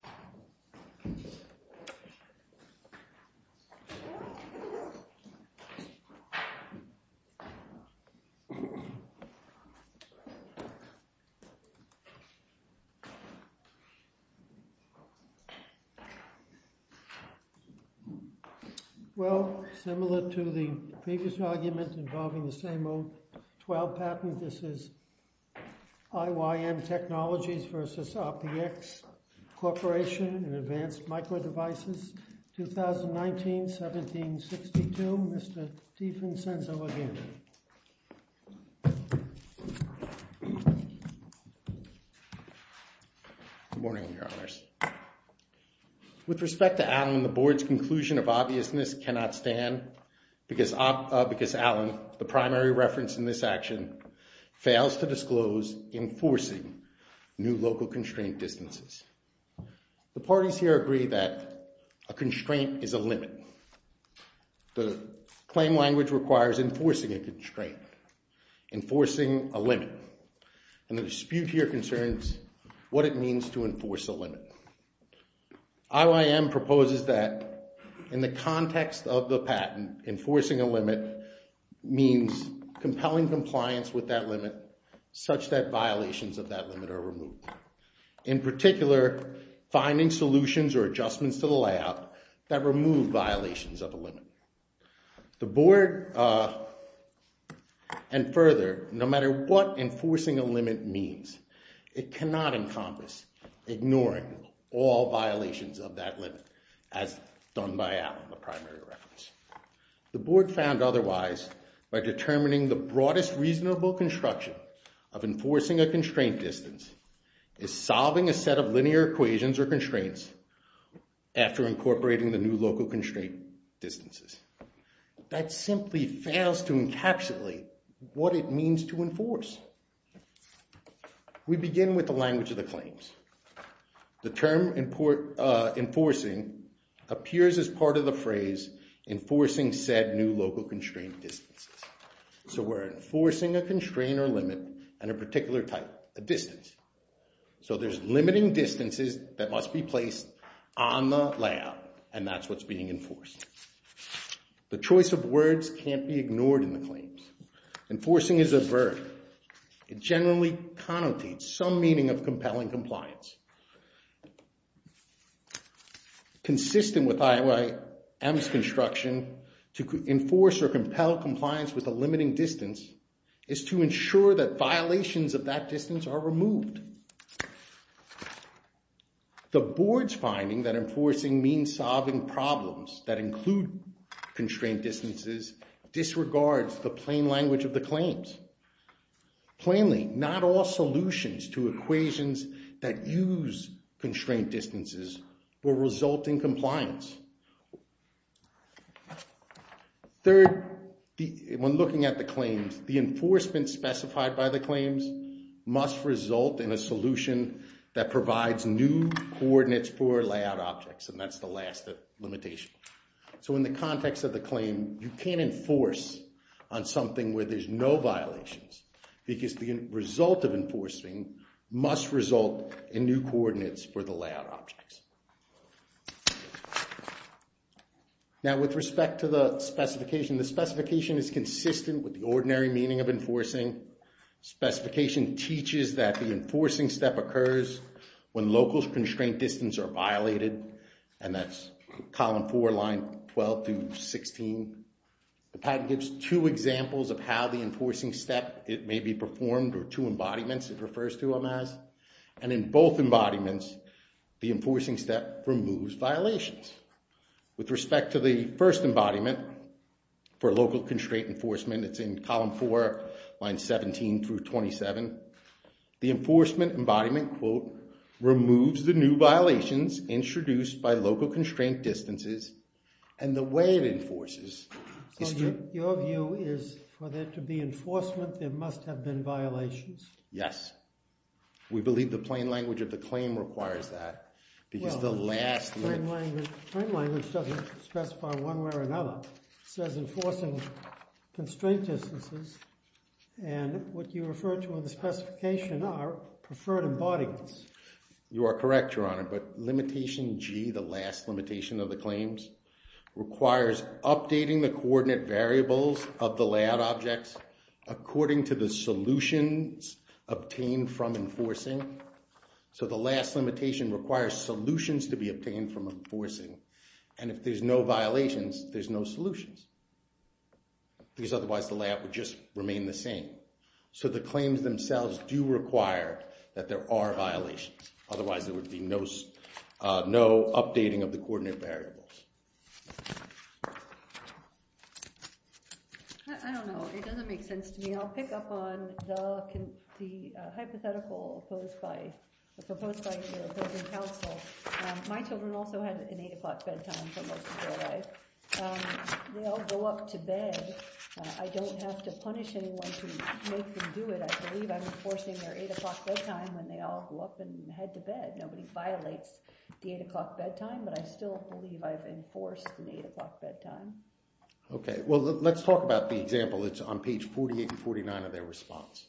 IYM Technologies LLC v. RPX Corporation in Advanced Micro Devices 2019-1762, Mr. Stephen Senzo again. Good morning, Your Honors. With respect to Allen, the Board's conclusion of obviousness cannot stand because Allen, the primary reference in this action, fails to disclose enforcing new local constraint distances. The parties here agree that a constraint is a limit. The claim language requires enforcing a constraint, enforcing a limit. And the dispute here concerns what it means to enforce a limit. IYM proposes that in the context of the patent, enforcing a limit means compelling compliance with that limit such that violations of that limit are removed. In particular, finding solutions or adjustments to the layout that remove violations of a limit. The Board, and further, no matter what enforcing a limit means, it cannot encompass ignoring all violations of that limit as done by Allen, the primary reference. The Board found otherwise by determining the broadest reasonable construction of enforcing a constraint distance is solving a set of linear equations or constraints after incorporating the new local constraint distances. That simply fails to encapsulate what it means to enforce. We begin with the language of the claims. The term enforcing appears as part of the phrase enforcing said new local constraint distances. So we're enforcing a constraint or limit and a particular type, a distance. So there's limiting distances that must be placed on the layout, and that's what's being enforced. The choice of words can't be ignored in the claims. Enforcing is a verb. It generally connotates some meaning of compelling compliance. Consistent with IOM's construction, to enforce or compel compliance with a limiting distance is to ensure that violations of that distance are removed. The Board's finding that enforcing means solving problems that include constraint distances disregards the plain language of the claims. Plainly, not all solutions to equations that use constraint distances will result in compliance. Third, when looking at the claims, the enforcement specified by the claims must result in a solution that provides new coordinates for layout objects, and that's the last limitation. So in the context of the claim, you can't enforce on something where there's no violations because the result of enforcing must result in new coordinates for the layout objects. Now, with respect to the specification, the specification is consistent with the ordinary meaning of enforcing. Specification teaches that the enforcing step occurs when local constraint distances are violated, and that's column 4, line 12 through 16. The patent gives two examples of how the enforcing step may be performed, or two embodiments it refers to them as. And in both embodiments, the enforcing step removes violations. With respect to the first embodiment, for local constraint enforcement, it's in column 4, line 17 through 27, the enforcement embodiment, quote, is introduced by local constraint distances, and the way it enforces... So your view is for there to be enforcement, there must have been violations? Yes. We believe the plain language of the claim requires that because the last... Plain language doesn't specify one way or another. It says enforcing constraint distances, and what you refer to in the specification are preferred embodiments. You are correct, Your Honor, but limitation G, the last limitation of the claims, requires updating the coordinate variables of the layout objects according to the solutions obtained from enforcing. So the last limitation requires solutions to be obtained from enforcing, and if there's no violations, there's no solutions because otherwise the layout would just remain the same. So the claims themselves do require that there are violations, otherwise there would be no updating of the coordinate variables. I don't know. It doesn't make sense to me. I'll pick up on the hypothetical proposed by the opposing counsel. My children also had an 8 o'clock bedtime for most of their life. They all go up to bed. I don't have to punish anyone to make them do it. I believe I'm enforcing their 8 o'clock bedtime when they all go up and head to bed. Nobody violates the 8 o'clock bedtime, but I still believe I've enforced an 8 o'clock bedtime. Okay. Well, let's talk about the example. It's on page 48 and 49 of their response,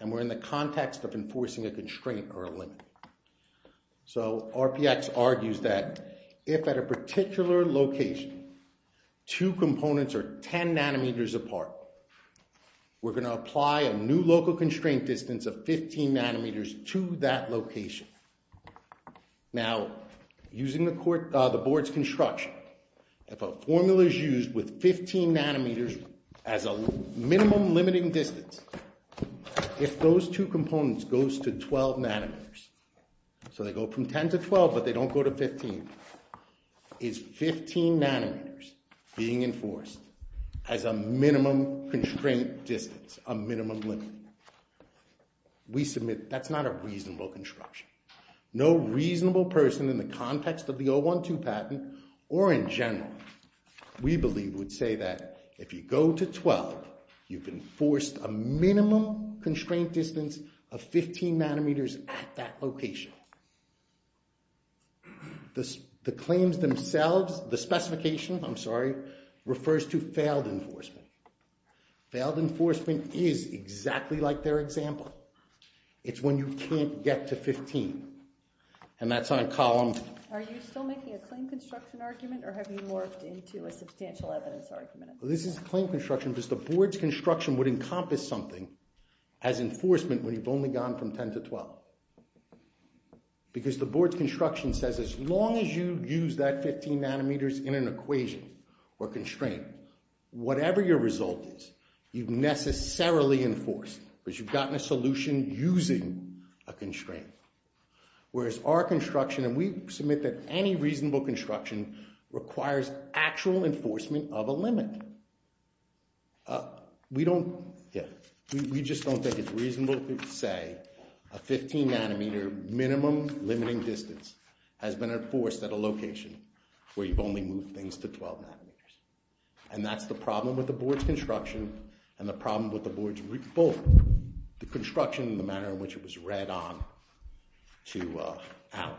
and we're in the context of enforcing a constraint or a limit. So RPX argues that if at a particular location two components are 10 nanometers apart, we're going to apply a new local constraint distance of 15 nanometers to that location. Now, using the board's construction, if a formula is used with 15 nanometers as a minimum limiting distance, if those two components goes to 12 nanometers, so they go from 10 to 12, but they don't go to 15, is 15 nanometers being enforced as a minimum constraint distance, a minimum limit? We submit that's not a reasonable construction. No reasonable person in the context of the 012 patent or in general we believe would say that if you go to 12, you've enforced a minimum constraint distance of 15 nanometers at that location. The claims themselves, the specification, I'm sorry, refers to failed enforcement. Failed enforcement is exactly like their example. It's when you can't get to 15. And that's on column... Are you still making a claim construction argument or have you morphed into a substantial evidence argument? This is claim construction because the board's construction would encompass something as enforcement when you've only gone from 10 to 12. Because the board's construction says as long as you use that 15 nanometers in an equation or constraint, whatever your result is, you've necessarily enforced because you've gotten a solution using a constraint. Whereas our construction, and we submit that any reasonable construction requires actual enforcement of a limit. We don't... We just don't think it's reasonable to say a 15 nanometer minimum limiting distance has been enforced at a location where you've only moved things to 12 nanometers. And that's the problem with the board's construction and the problem with the board's... both the construction and the manner in which it was read on to Alan.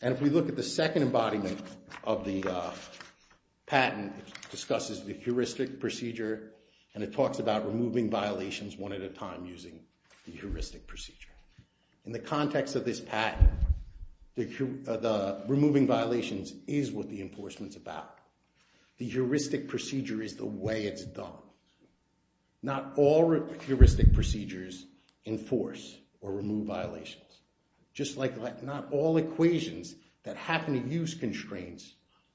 And if we look at the second embodiment of the patent, it discusses the heuristic procedure and it talks about removing violations one at a time using the heuristic procedure. In the context of this patent, the removing violations is what the enforcement's about. The heuristic procedure is the way it's done. Not all heuristic procedures enforce or remove violations. Just like not all equations that happen to use constraints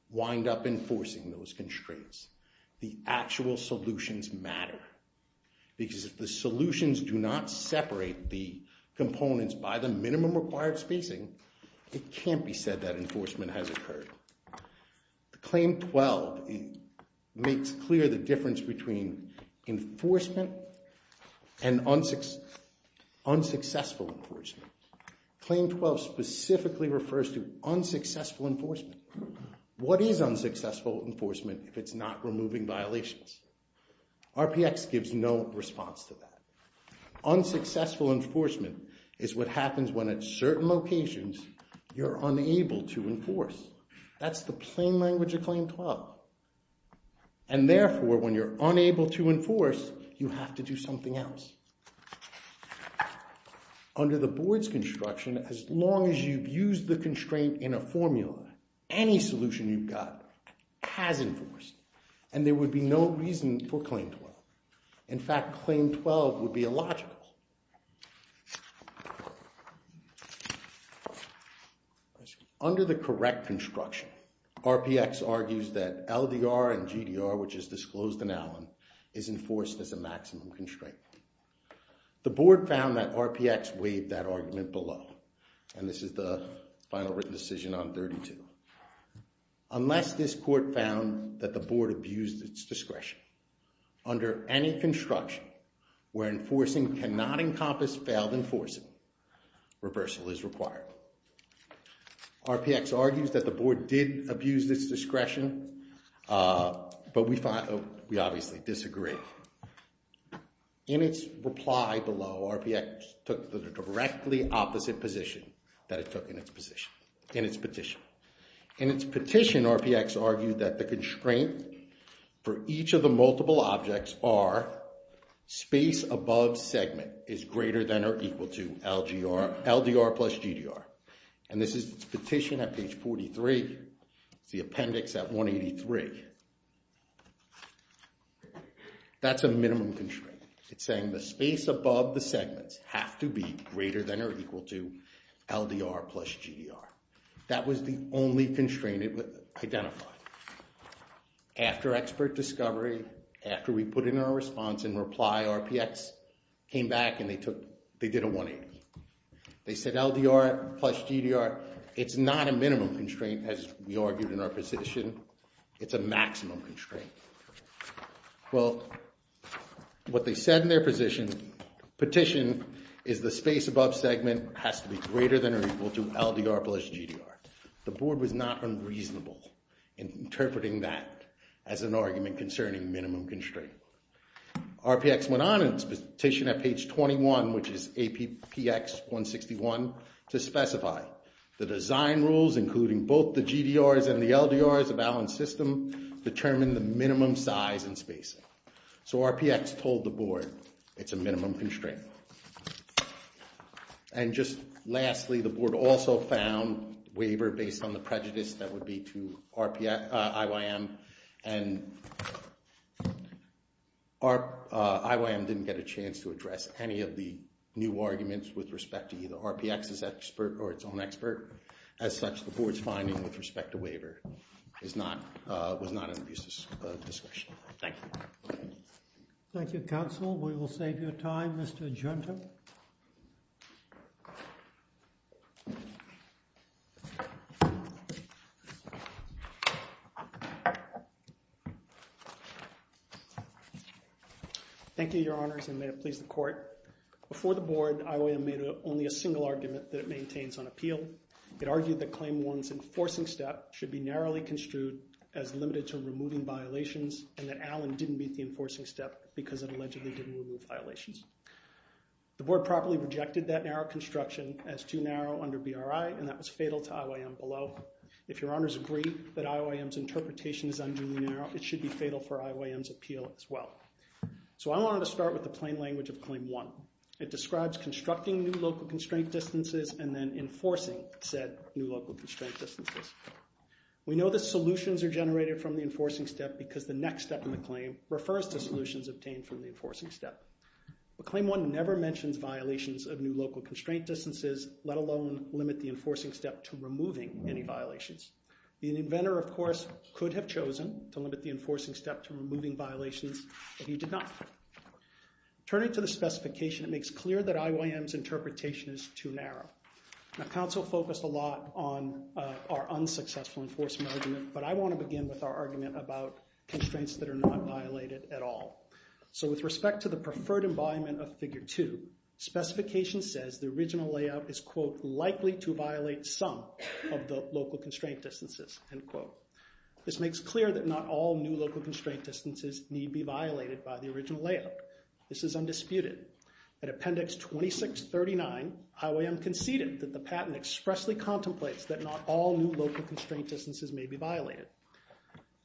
wind up enforcing those constraints. The actual solutions matter. Because if the solutions do not separate the components by the minimum required spacing, it can't be said that enforcement has occurred. The Claim 12 makes clear the difference between enforcement and unsuccessful enforcement. Claim 12 specifically refers to unsuccessful enforcement. What is unsuccessful enforcement if it's not removing violations? RPX gives no response to that. Unsuccessful enforcement is what happens when at certain locations you're unable to enforce. That's the plain language of Claim 12. And therefore, when you're unable to enforce, you have to do something else. Under the board's construction, as long as you've used the constraint in a formula, any solution you've got has enforced. And there would be no reason for Claim 12. In fact, Claim 12 would be illogical. Under the correct construction, RPX argues that LDR and GDR, which is disclosed in Allen, is enforced as a maximum constraint. The board found that RPX waived that argument below. And this is the final written decision on 32. Unless this court found that the board abused its discretion, under any construction where enforcing cannot encompass failed enforcing, reversal is required. RPX argues that the board did abuse its discretion, but we obviously disagree. In its reply below, RPX took the directly opposite position that it took in its petition. In its petition, RPX argued that the constraint for each of the multiple objects are space above segment is greater than or equal to LDR plus GDR. And this is its petition at page 43, the appendix at 183. That's a minimum constraint. It's saying the space above the segments have to be greater than or equal to LDR plus GDR. That was the only constraint it identified. After expert discovery, after we put in our response in reply, RPX came back and they did a 180. They said LDR plus GDR, it's not a minimum constraint as we argued in our position. It's a maximum constraint. Well, what they said in their position, petition is the space above segment has to be greater than or equal to LDR plus GDR. The board was not unreasonable in interpreting that as an argument concerning minimum constraint. RPX went on its petition at page 21, which is APX 161, to specify the design rules including both the GDRs and the LDRs of Allen's system determine the minimum size and spacing. So RPX told the board it's a minimum constraint. And just lastly, the board also found waiver based on the prejudice that would be to IYM and IYM didn't get a chance to address any of the new arguments with respect to either RPX's expert or its own expert. As such, the board's finding with respect to waiver was not an abusive discussion. Thank you. Thank you, counsel. We will save your time, Mr. Genta. Thank you. Thank you, your honors, and may it please the court. Before the board, IYM made only a single argument that it maintains on appeal. It argued that claim one's enforcing step should be narrowly construed as limited to removing violations and that Allen didn't meet the enforcing step because it allegedly didn't remove violations. The board properly rejected that narrow construction as too narrow under BRI and that was fatal to IYM below. If your honors agree that IYM's interpretation is unduly narrow, it should be fatal for IYM's appeal as well. So I wanted to start with the plain language of claim one. It describes constructing new local constraint distances and then enforcing said new local constraint distances. We know the solutions are generated from the enforcing step because the next step in the claim refers to solutions obtained from the enforcing step. But claim one never mentions violations of new local constraint distances, let alone limit the enforcing step to removing any violations. The inventor, of course, could have chosen to limit the enforcing step to removing violations, but he did not. Turning to the specification, it makes clear that IYM's interpretation is too narrow. Now, counsel focused a lot on our unsuccessful enforcement argument, but I want to begin with our argument about constraints that are not violated at all. So with respect to the preferred environment of figure two, specification says the original layout is, quote, likely to violate some of the local constraint distances, end quote. This makes clear that not all new local constraint distances need be violated by the original layout. This is undisputed. At appendix 2639, IYM conceded that not all new local constraint distances may be violated.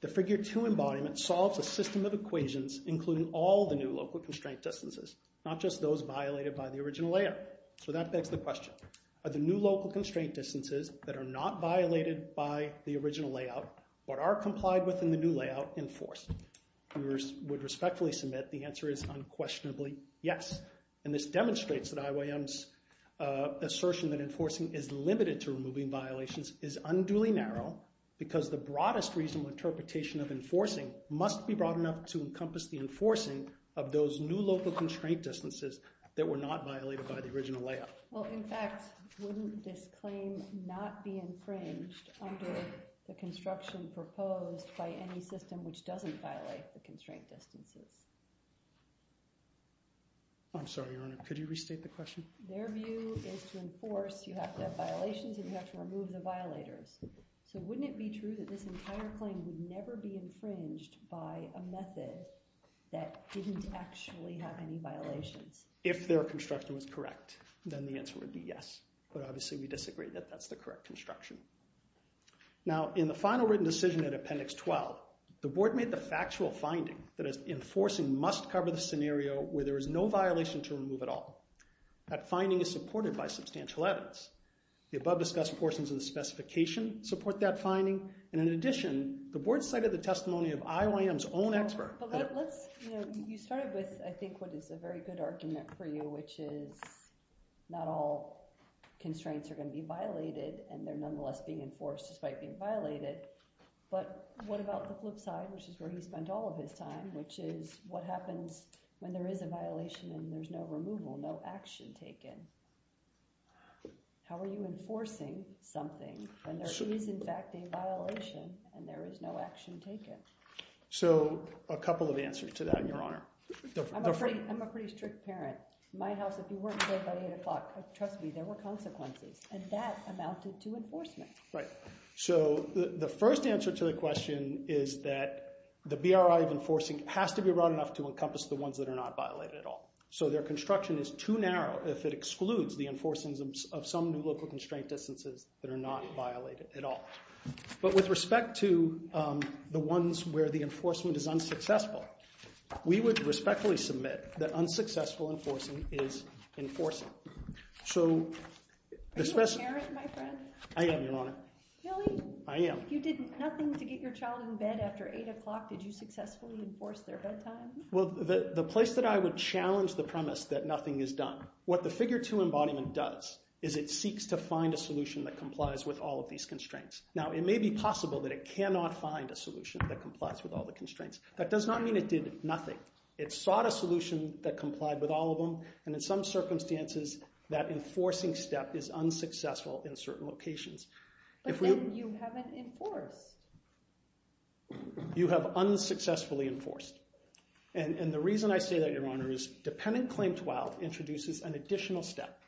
The figure two embodiment solves a system of equations, including all the new local constraint distances, not just those violated by the original layout. So that begs the question, are the new local constraint distances that are not violated by the original layout or are complied with in the new layout enforced? We would respectfully submit the answer is unquestionably yes. And this demonstrates that IYM's assertion that enforcing is limited to removing violations is unduly narrow because the broadest reasonable interpretation of enforcing must be broad enough to encompass the enforcing of those new local constraint distances that were not violated by the original layout. Well, in fact, wouldn't this claim not be infringed under the construction proposed by any system which doesn't violate the constraint distances? I'm sorry, Your Honor, could you restate the question? Their view is to enforce, you have to have violations and you have to remove the violators. So wouldn't it be true that this entire claim would never be infringed by a method that didn't actually have any violations? If their construction was correct, then the answer would be yes. But obviously we disagree that that's the correct construction. Now, in the final written decision at Appendix 12, the Board made the factual finding that enforcing must cover the scenario where there is no violation to remove at all. That finding is supported by substantial evidence. The above-discussed portions of the specification support that finding. And in addition, the Board cited the testimony of IOM's own expert. You started with, I think, what is a very good argument for you, which is not all constraints are going to be violated and they're nonetheless being enforced despite being violated. But what about the flip side, which is where he spent all of his time, which is what happens when there is a violation and there's no removal, no action taken? How are you enforcing something when there is, in fact, a violation and there is no action taken? So a couple of answers to that, Your Honor. I'm a pretty strict parent. My house, if you weren't here by 8 o'clock, trust me, there were consequences. And that amounted to enforcement. Right. So the first answer to the question is that the BRI of enforcing has to be broad enough to encompass the ones that are not violated at all. So their construction is too narrow if it excludes the enforcing of some new local constraint distances that are not violated at all. But with respect to the ones where the enforcement is unsuccessful, we would respectfully submit that unsuccessful enforcing is enforcing. So... Are you a parent, my friend? I am, Your Honor. Really? I am. If you did nothing to get your child in bed after 8 o'clock, did you successfully enforce their bedtime? Well, the place that I would challenge the premise that nothing is done. What the Figure 2 embodiment does is it seeks to find a solution that complies with all of these constraints. Now, it may be possible that it cannot find a solution that complies with all the constraints. That does not mean it did nothing. It sought a solution that complied with all of them, and in some circumstances, that enforcing step is unsuccessful in certain locations. But then you haven't enforced. You have unsuccessfully enforced. And the reason I say that, Your Honor, is Dependent Claim 12 introduces an additional step.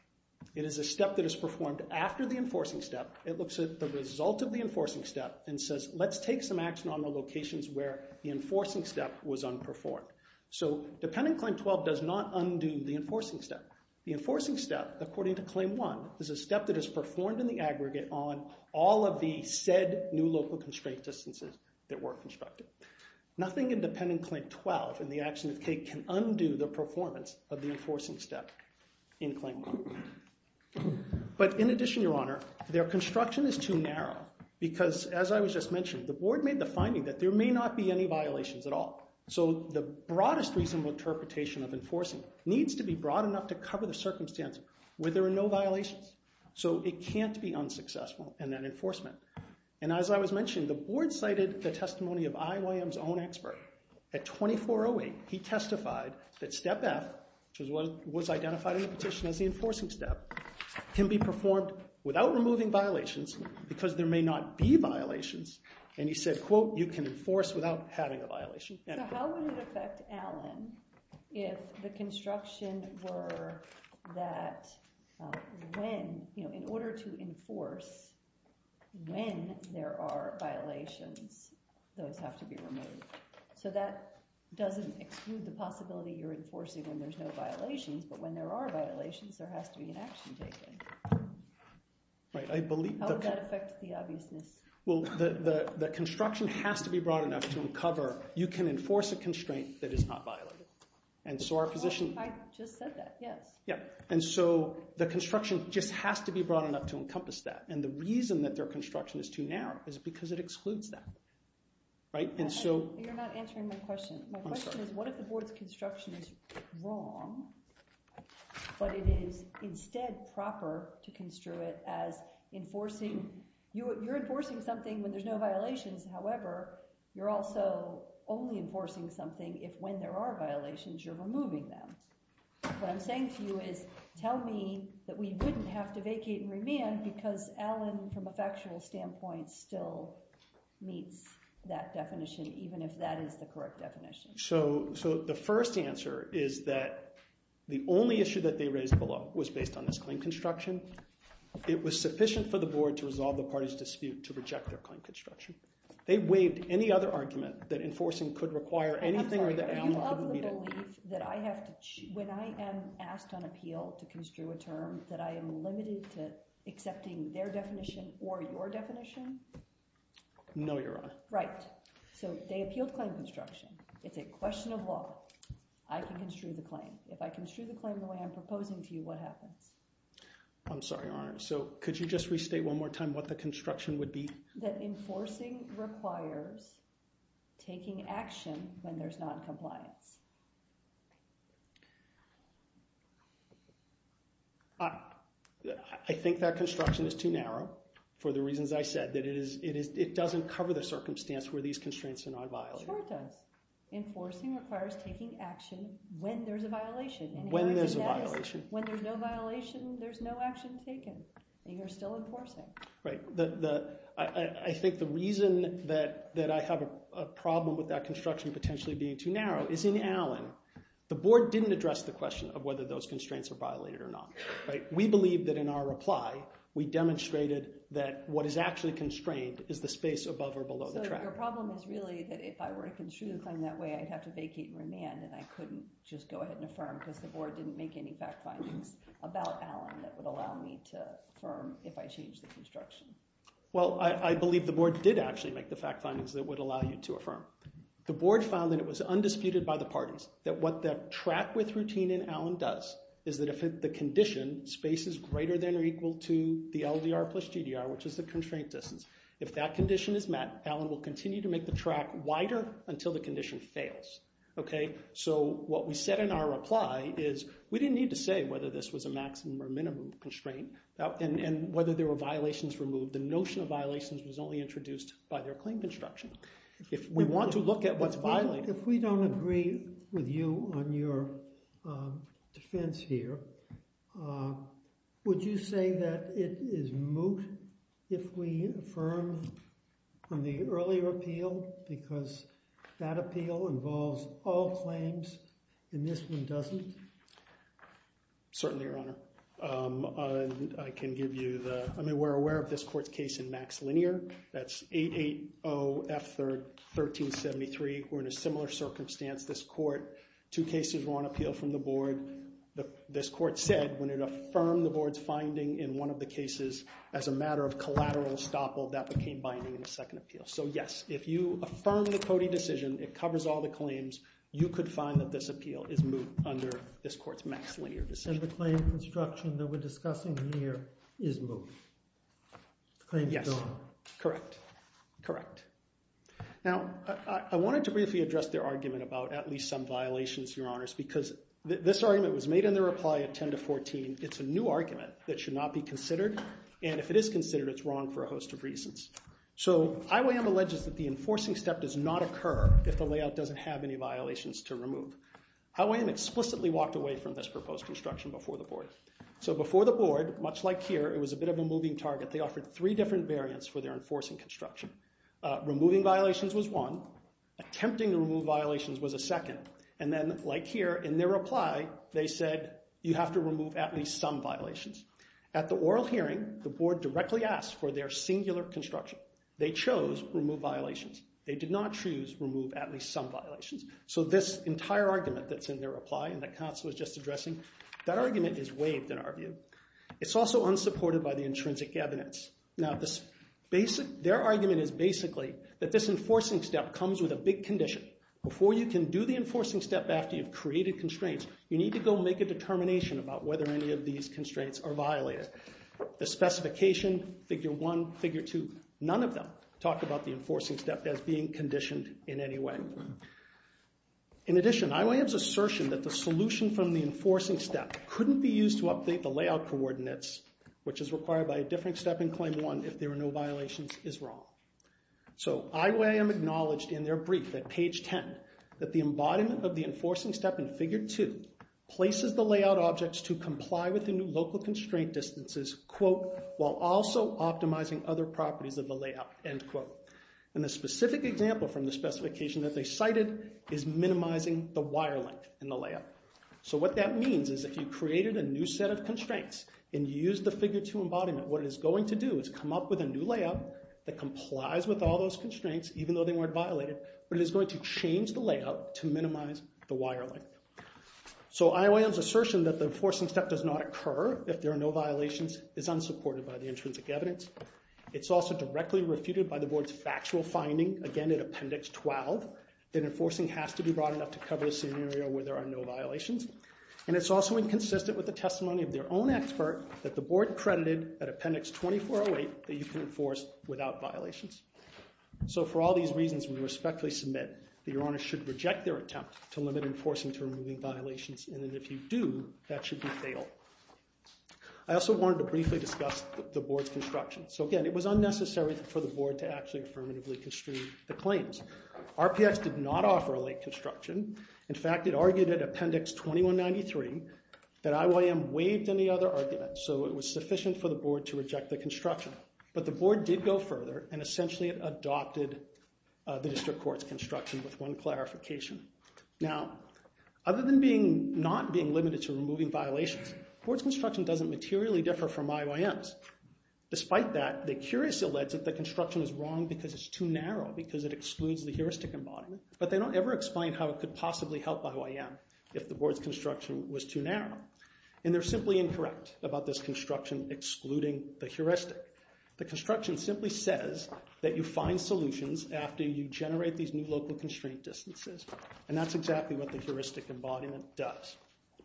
It is a step that is performed after the enforcing step. It looks at the result of the enforcing step and says, let's take some action on the locations where the enforcing step was unperformed. So Dependent Claim 12 does not undo the enforcing step. The enforcing step, according to Claim 1, is a step that is performed in the aggregate on all of the said new local constraint distances that were constructed. Nothing in Dependent Claim 12 and the action of Kate can undo the performance of the enforcing step in Claim 1. But in addition, Your Honor, their construction is too narrow because, as I was just mentioning, the Board made the finding that there may not be any violations at all. So the broadest reasonable interpretation of enforcing needs to be broad enough to cover the circumstance where there are no violations. So it can't be unsuccessful in that enforcement. And as I was mentioning, the Board cited the testimony of IYM's own expert at 2408. He testified that step F, which was identified in the petition as the enforcing step, can be performed without removing violations because there may not be violations. And he said, quote, you can enforce without having a violation. So how would it affect Alan if the construction were that when, you know, in order to enforce when there are violations, those have to be removed? So that doesn't exclude the possibility you're enforcing when there's no violations, but when there are violations, there has to be an action taken. How would that affect the obviousness? Well, the construction has to be broad enough to uncover you can enforce a constraint that is not violated. I just said that, yes. Yeah, and so the construction just has to be broad enough to encompass that. And the reason that their construction is too narrow is because it excludes that, right? You're not answering my question. My question is what if the board's construction is wrong, but it is instead proper to construe it as enforcing. You're enforcing something when there's no violations. However, you're also only enforcing something if when there are violations, you're removing them. What I'm saying to you is tell me that we wouldn't have to vacate and remand because Allen, from a factual standpoint, still meets that definition, even if that is the correct definition. So the first answer is that the only issue that they raised below was based on this claim construction. It was sufficient for the board to resolve the party's dispute to reject their claim construction. They waived any other argument that enforcing could require anything or that Allen couldn't meet it. When I am asked on appeal to construe a term that I am limited to accepting their definition or your definition? No, Your Honor. Right. So they appealed claim construction. It's a question of law. I can construe the claim. If I construe the claim the way I'm proposing to you, what happens? I'm sorry, Your Honor. So could you just restate one more time what the construction would be? That enforcing requires taking action when there's noncompliance. I think that construction is too narrow for the reasons I said. It doesn't cover the circumstance where these constraints are not violated. Sure it does. Enforcing requires taking action when there's a violation. When there's a violation. When there's no violation, there's no action taken. And you're still enforcing. Right. I think the reason that I have a problem with that construction potentially being too narrow is in Allen. The board didn't address the question of whether those constraints are violated or not. We believe that in our reply, we demonstrated that what is actually constrained is the space above or below the track. So your problem is really that if I were to construe the claim that way, I'd have to vacate and remand and I couldn't just go ahead and affirm because the board didn't make any fact findings about Allen that would allow me to affirm if I changed the construction. Well, I believe the board did actually make the fact findings that would allow you to affirm. The board found that it was undisputed by the parties that what the track width routine in Allen does is that if the condition, space is greater than or equal to the LDR plus GDR, which is the constraint distance, if that condition is met, Allen will continue to make the track wider until the condition fails. So what we said in our reply is we didn't need to say whether this was a maximum or minimum constraint and whether there were violations removed. The notion of violations was only introduced by their claim construction. If we want to look at what's violated... If we don't agree with you on your defense here, would you say that it is moot if we affirm from the earlier appeal because that appeal involves all claims and this one doesn't? Certainly, Your Honor. I can give you the... I mean, we're aware of this court's case in Max Linear. That's 880F1373. We're in a similar circumstance. This court, two cases were on appeal from the board. This court said when it affirmed the board's finding in one of the cases as a matter of collateral estoppel, that became binding in the second appeal. So yes, if you affirm the Cody decision, it covers all the claims, you could find that this appeal is moot under this court's Max Linear decision. And the claim construction that we're discussing here is moot? Yes. Correct. Now, I wanted to briefly address their argument about at least some violations, Your Honors, because this argument was made in their reply at 10 to 14. It's a new argument that should not be considered, and if it is considered, it's wrong for a host of reasons. So IOM alleges that the enforcing step does not occur if the layout doesn't have any violations to remove. IOM explicitly walked away from this proposed construction before the board. So before the board, much like here, it was a bit of a moving target. They offered three different variants for their enforcing construction. Removing violations was one. Attempting to remove violations was a second. And then, like here, in their reply, they said you have to remove at least some violations. At the oral hearing, the board directly asked for their singular construction. They chose remove violations. They did not choose remove at least some violations. So this entire argument that's in their reply and that Katz was just addressing, that argument is waived in our view. It's also unsupported by the intrinsic evidence. Now, their argument is basically that this enforcing step comes with a big condition. Before you can do the enforcing step after you've created constraints, you need to go make a determination about whether any of these constraints are violated. The specification, figure one, figure two, none of them talk about the enforcing step as being conditioned in any way. In addition, IOM's assertion that the solution from the enforcing step couldn't be used to update the layout coordinates, which is required by a different step in claim one if there are no violations, is wrong. So IOM acknowledged in their brief at page 10 that the embodiment of the enforcing step in figure two places the layout objects to comply with the new local constraint distances while also optimizing other properties of the layout. And a specific example from the specification that they cited is minimizing the wire length in the layout. So what that means is if you created a new set of constraints and used the figure two embodiment, what it is going to do is come up with a new layout that complies with all those constraints, even though they weren't violated, but it is going to change the layout to minimize the wire length. So IOM's assertion that the enforcing step does not occur if there are no violations is unsupported by the intrinsic evidence. It's also directly refuted by the board's factual finding, again, in appendix 12, that enforcing has to be broad enough to cover the scenario where there are no violations. And it's also inconsistent with the testimony of their own expert that the board credited at appendix 2408 that you can enforce without violations. So for all these reasons, we respectfully submit that your honors should reject their attempt to limit enforcing to removing violations, and that if you do, that should be fatal. I also wanted to briefly discuss the board's construction. So again, it was unnecessary for the board to actually affirmatively construe the claims. RPX did not offer a late construction. In fact, it argued at appendix 2193 that IOM waived any other arguments, so it was sufficient for the board to reject the construction. But the board did go further, and essentially adopted the district court's construction with one clarification. Now, other than not being limited to removing violations, the board's construction doesn't materially differ from IOM's. Despite that, they curiously allege that the construction is wrong because it's too narrow, because it excludes the heuristic embodiment, but they don't ever explain how it could possibly help IOM if the board's construction was too narrow. And they're simply incorrect about this construction excluding the heuristic. The construction simply says that you find solutions after you generate these new local constraint distances, and that's exactly what the heuristic embodiment does.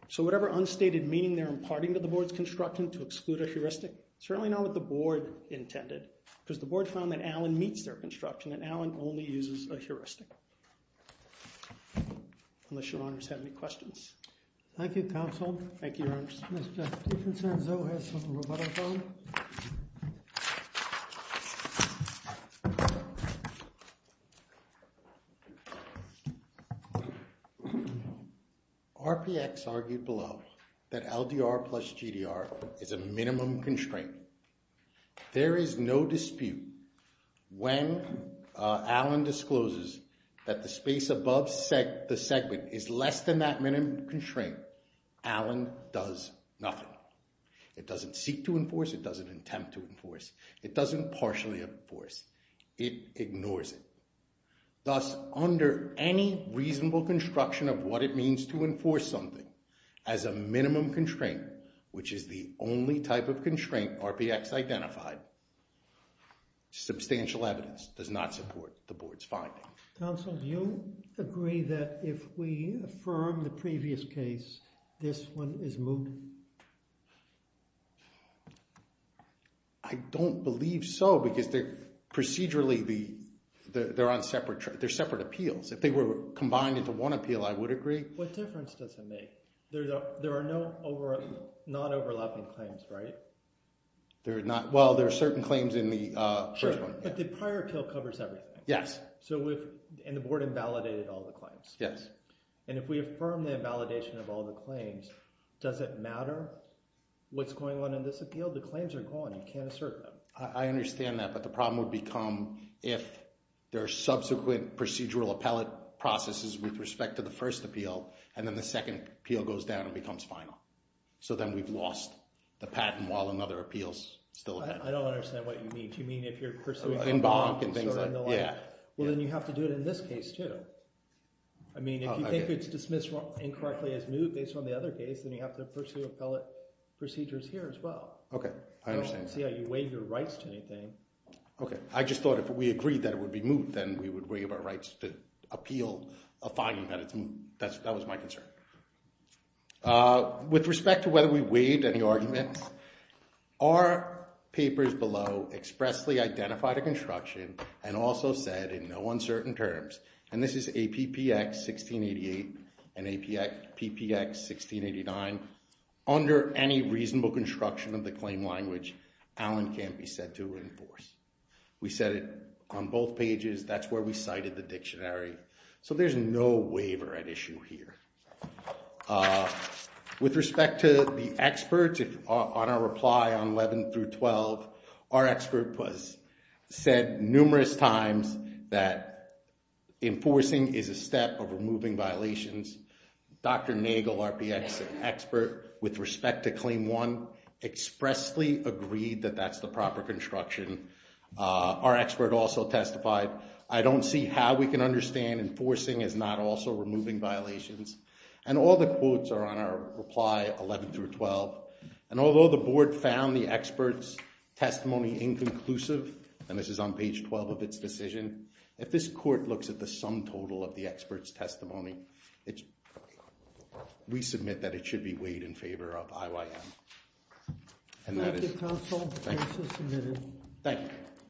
So whatever unstated meaning they're imparting to the board's construction to exclude a heuristic, certainly not what the board intended, because the board found that Allen meets their construction, and Allen only uses a heuristic. Unless your honors have any questions. Thank you, counsel. Thank you, your honors. Mr. Peterson, Zoe has a rebuttal phone. RPX argued below that LDR plus GDR is a minimum constraint. There is no dispute when Allen discloses that the space above the segment is less than that minimum constraint, Allen does nothing. It doesn't seek to enforce, it doesn't attempt to enforce, it doesn't partially enforce. It ignores it. Thus, under any reasonable construction of what it means to enforce something as a minimum constraint, which is the only type of constraint RPX identified, substantial evidence does not support the board's finding. Counsel, do you agree that if we affirm the previous case, this one is moot? I don't believe so, because procedurally, they're separate appeals. If they were combined into one appeal, I would agree. What difference does it make? There are no non-overlapping claims, right? Well, there are certain claims in the first one. But the prior appeal covers everything. Yes. And the board invalidated all the claims. Yes. And if we affirm the invalidation of all the claims, does it matter what's going on in this appeal? The claims are gone, you can't assert them. I understand that, but the problem would become if there are subsequent procedural appellate processes with respect to the first appeal, and then the second appeal goes down and becomes final. So then we've lost the patent while another appeal's still ahead. I don't understand what you mean. Do you mean if you're pursuing a bonk and things like that? Yeah. Well, then you have to do it in this case, too. I mean, if you think it's dismissed incorrectly as moot based on the other case, then you have to pursue appellate procedures here as well. Okay, I understand. You weigh your rights to anything. Okay, I just thought if we agreed that it would be moot, then we would weigh our rights to appeal a finding that it's moot. That was my concern. With respect to whether we weighed any arguments, our papers below expressly identified a construction and also said in no uncertain terms, and this is APPX 1688 and APPX 1689, under any reasonable construction of the claim language, Allen can't be said to enforce. We said it on both pages. That's where we cited the dictionary. So there's no waiver at issue here. With respect to the experts, on our reply on 11 through 12, our expert said numerous times that enforcing is a step of removing violations. Dr. Nagel, our expert, with respect to Claim 1, expressly agreed that that's the proper construction. Our expert also testified, I don't see how we can understand enforcing as not also removing violations. And all the quotes are on our reply 11 through 12. And although the board found the expert's testimony inconclusive, and this is on page 12 of its decision, if this court looks at the sum total of the expert's testimony, we submit that it should be weighed in favor of IYM. Thank you, counsel. The case is submitted. Thank you.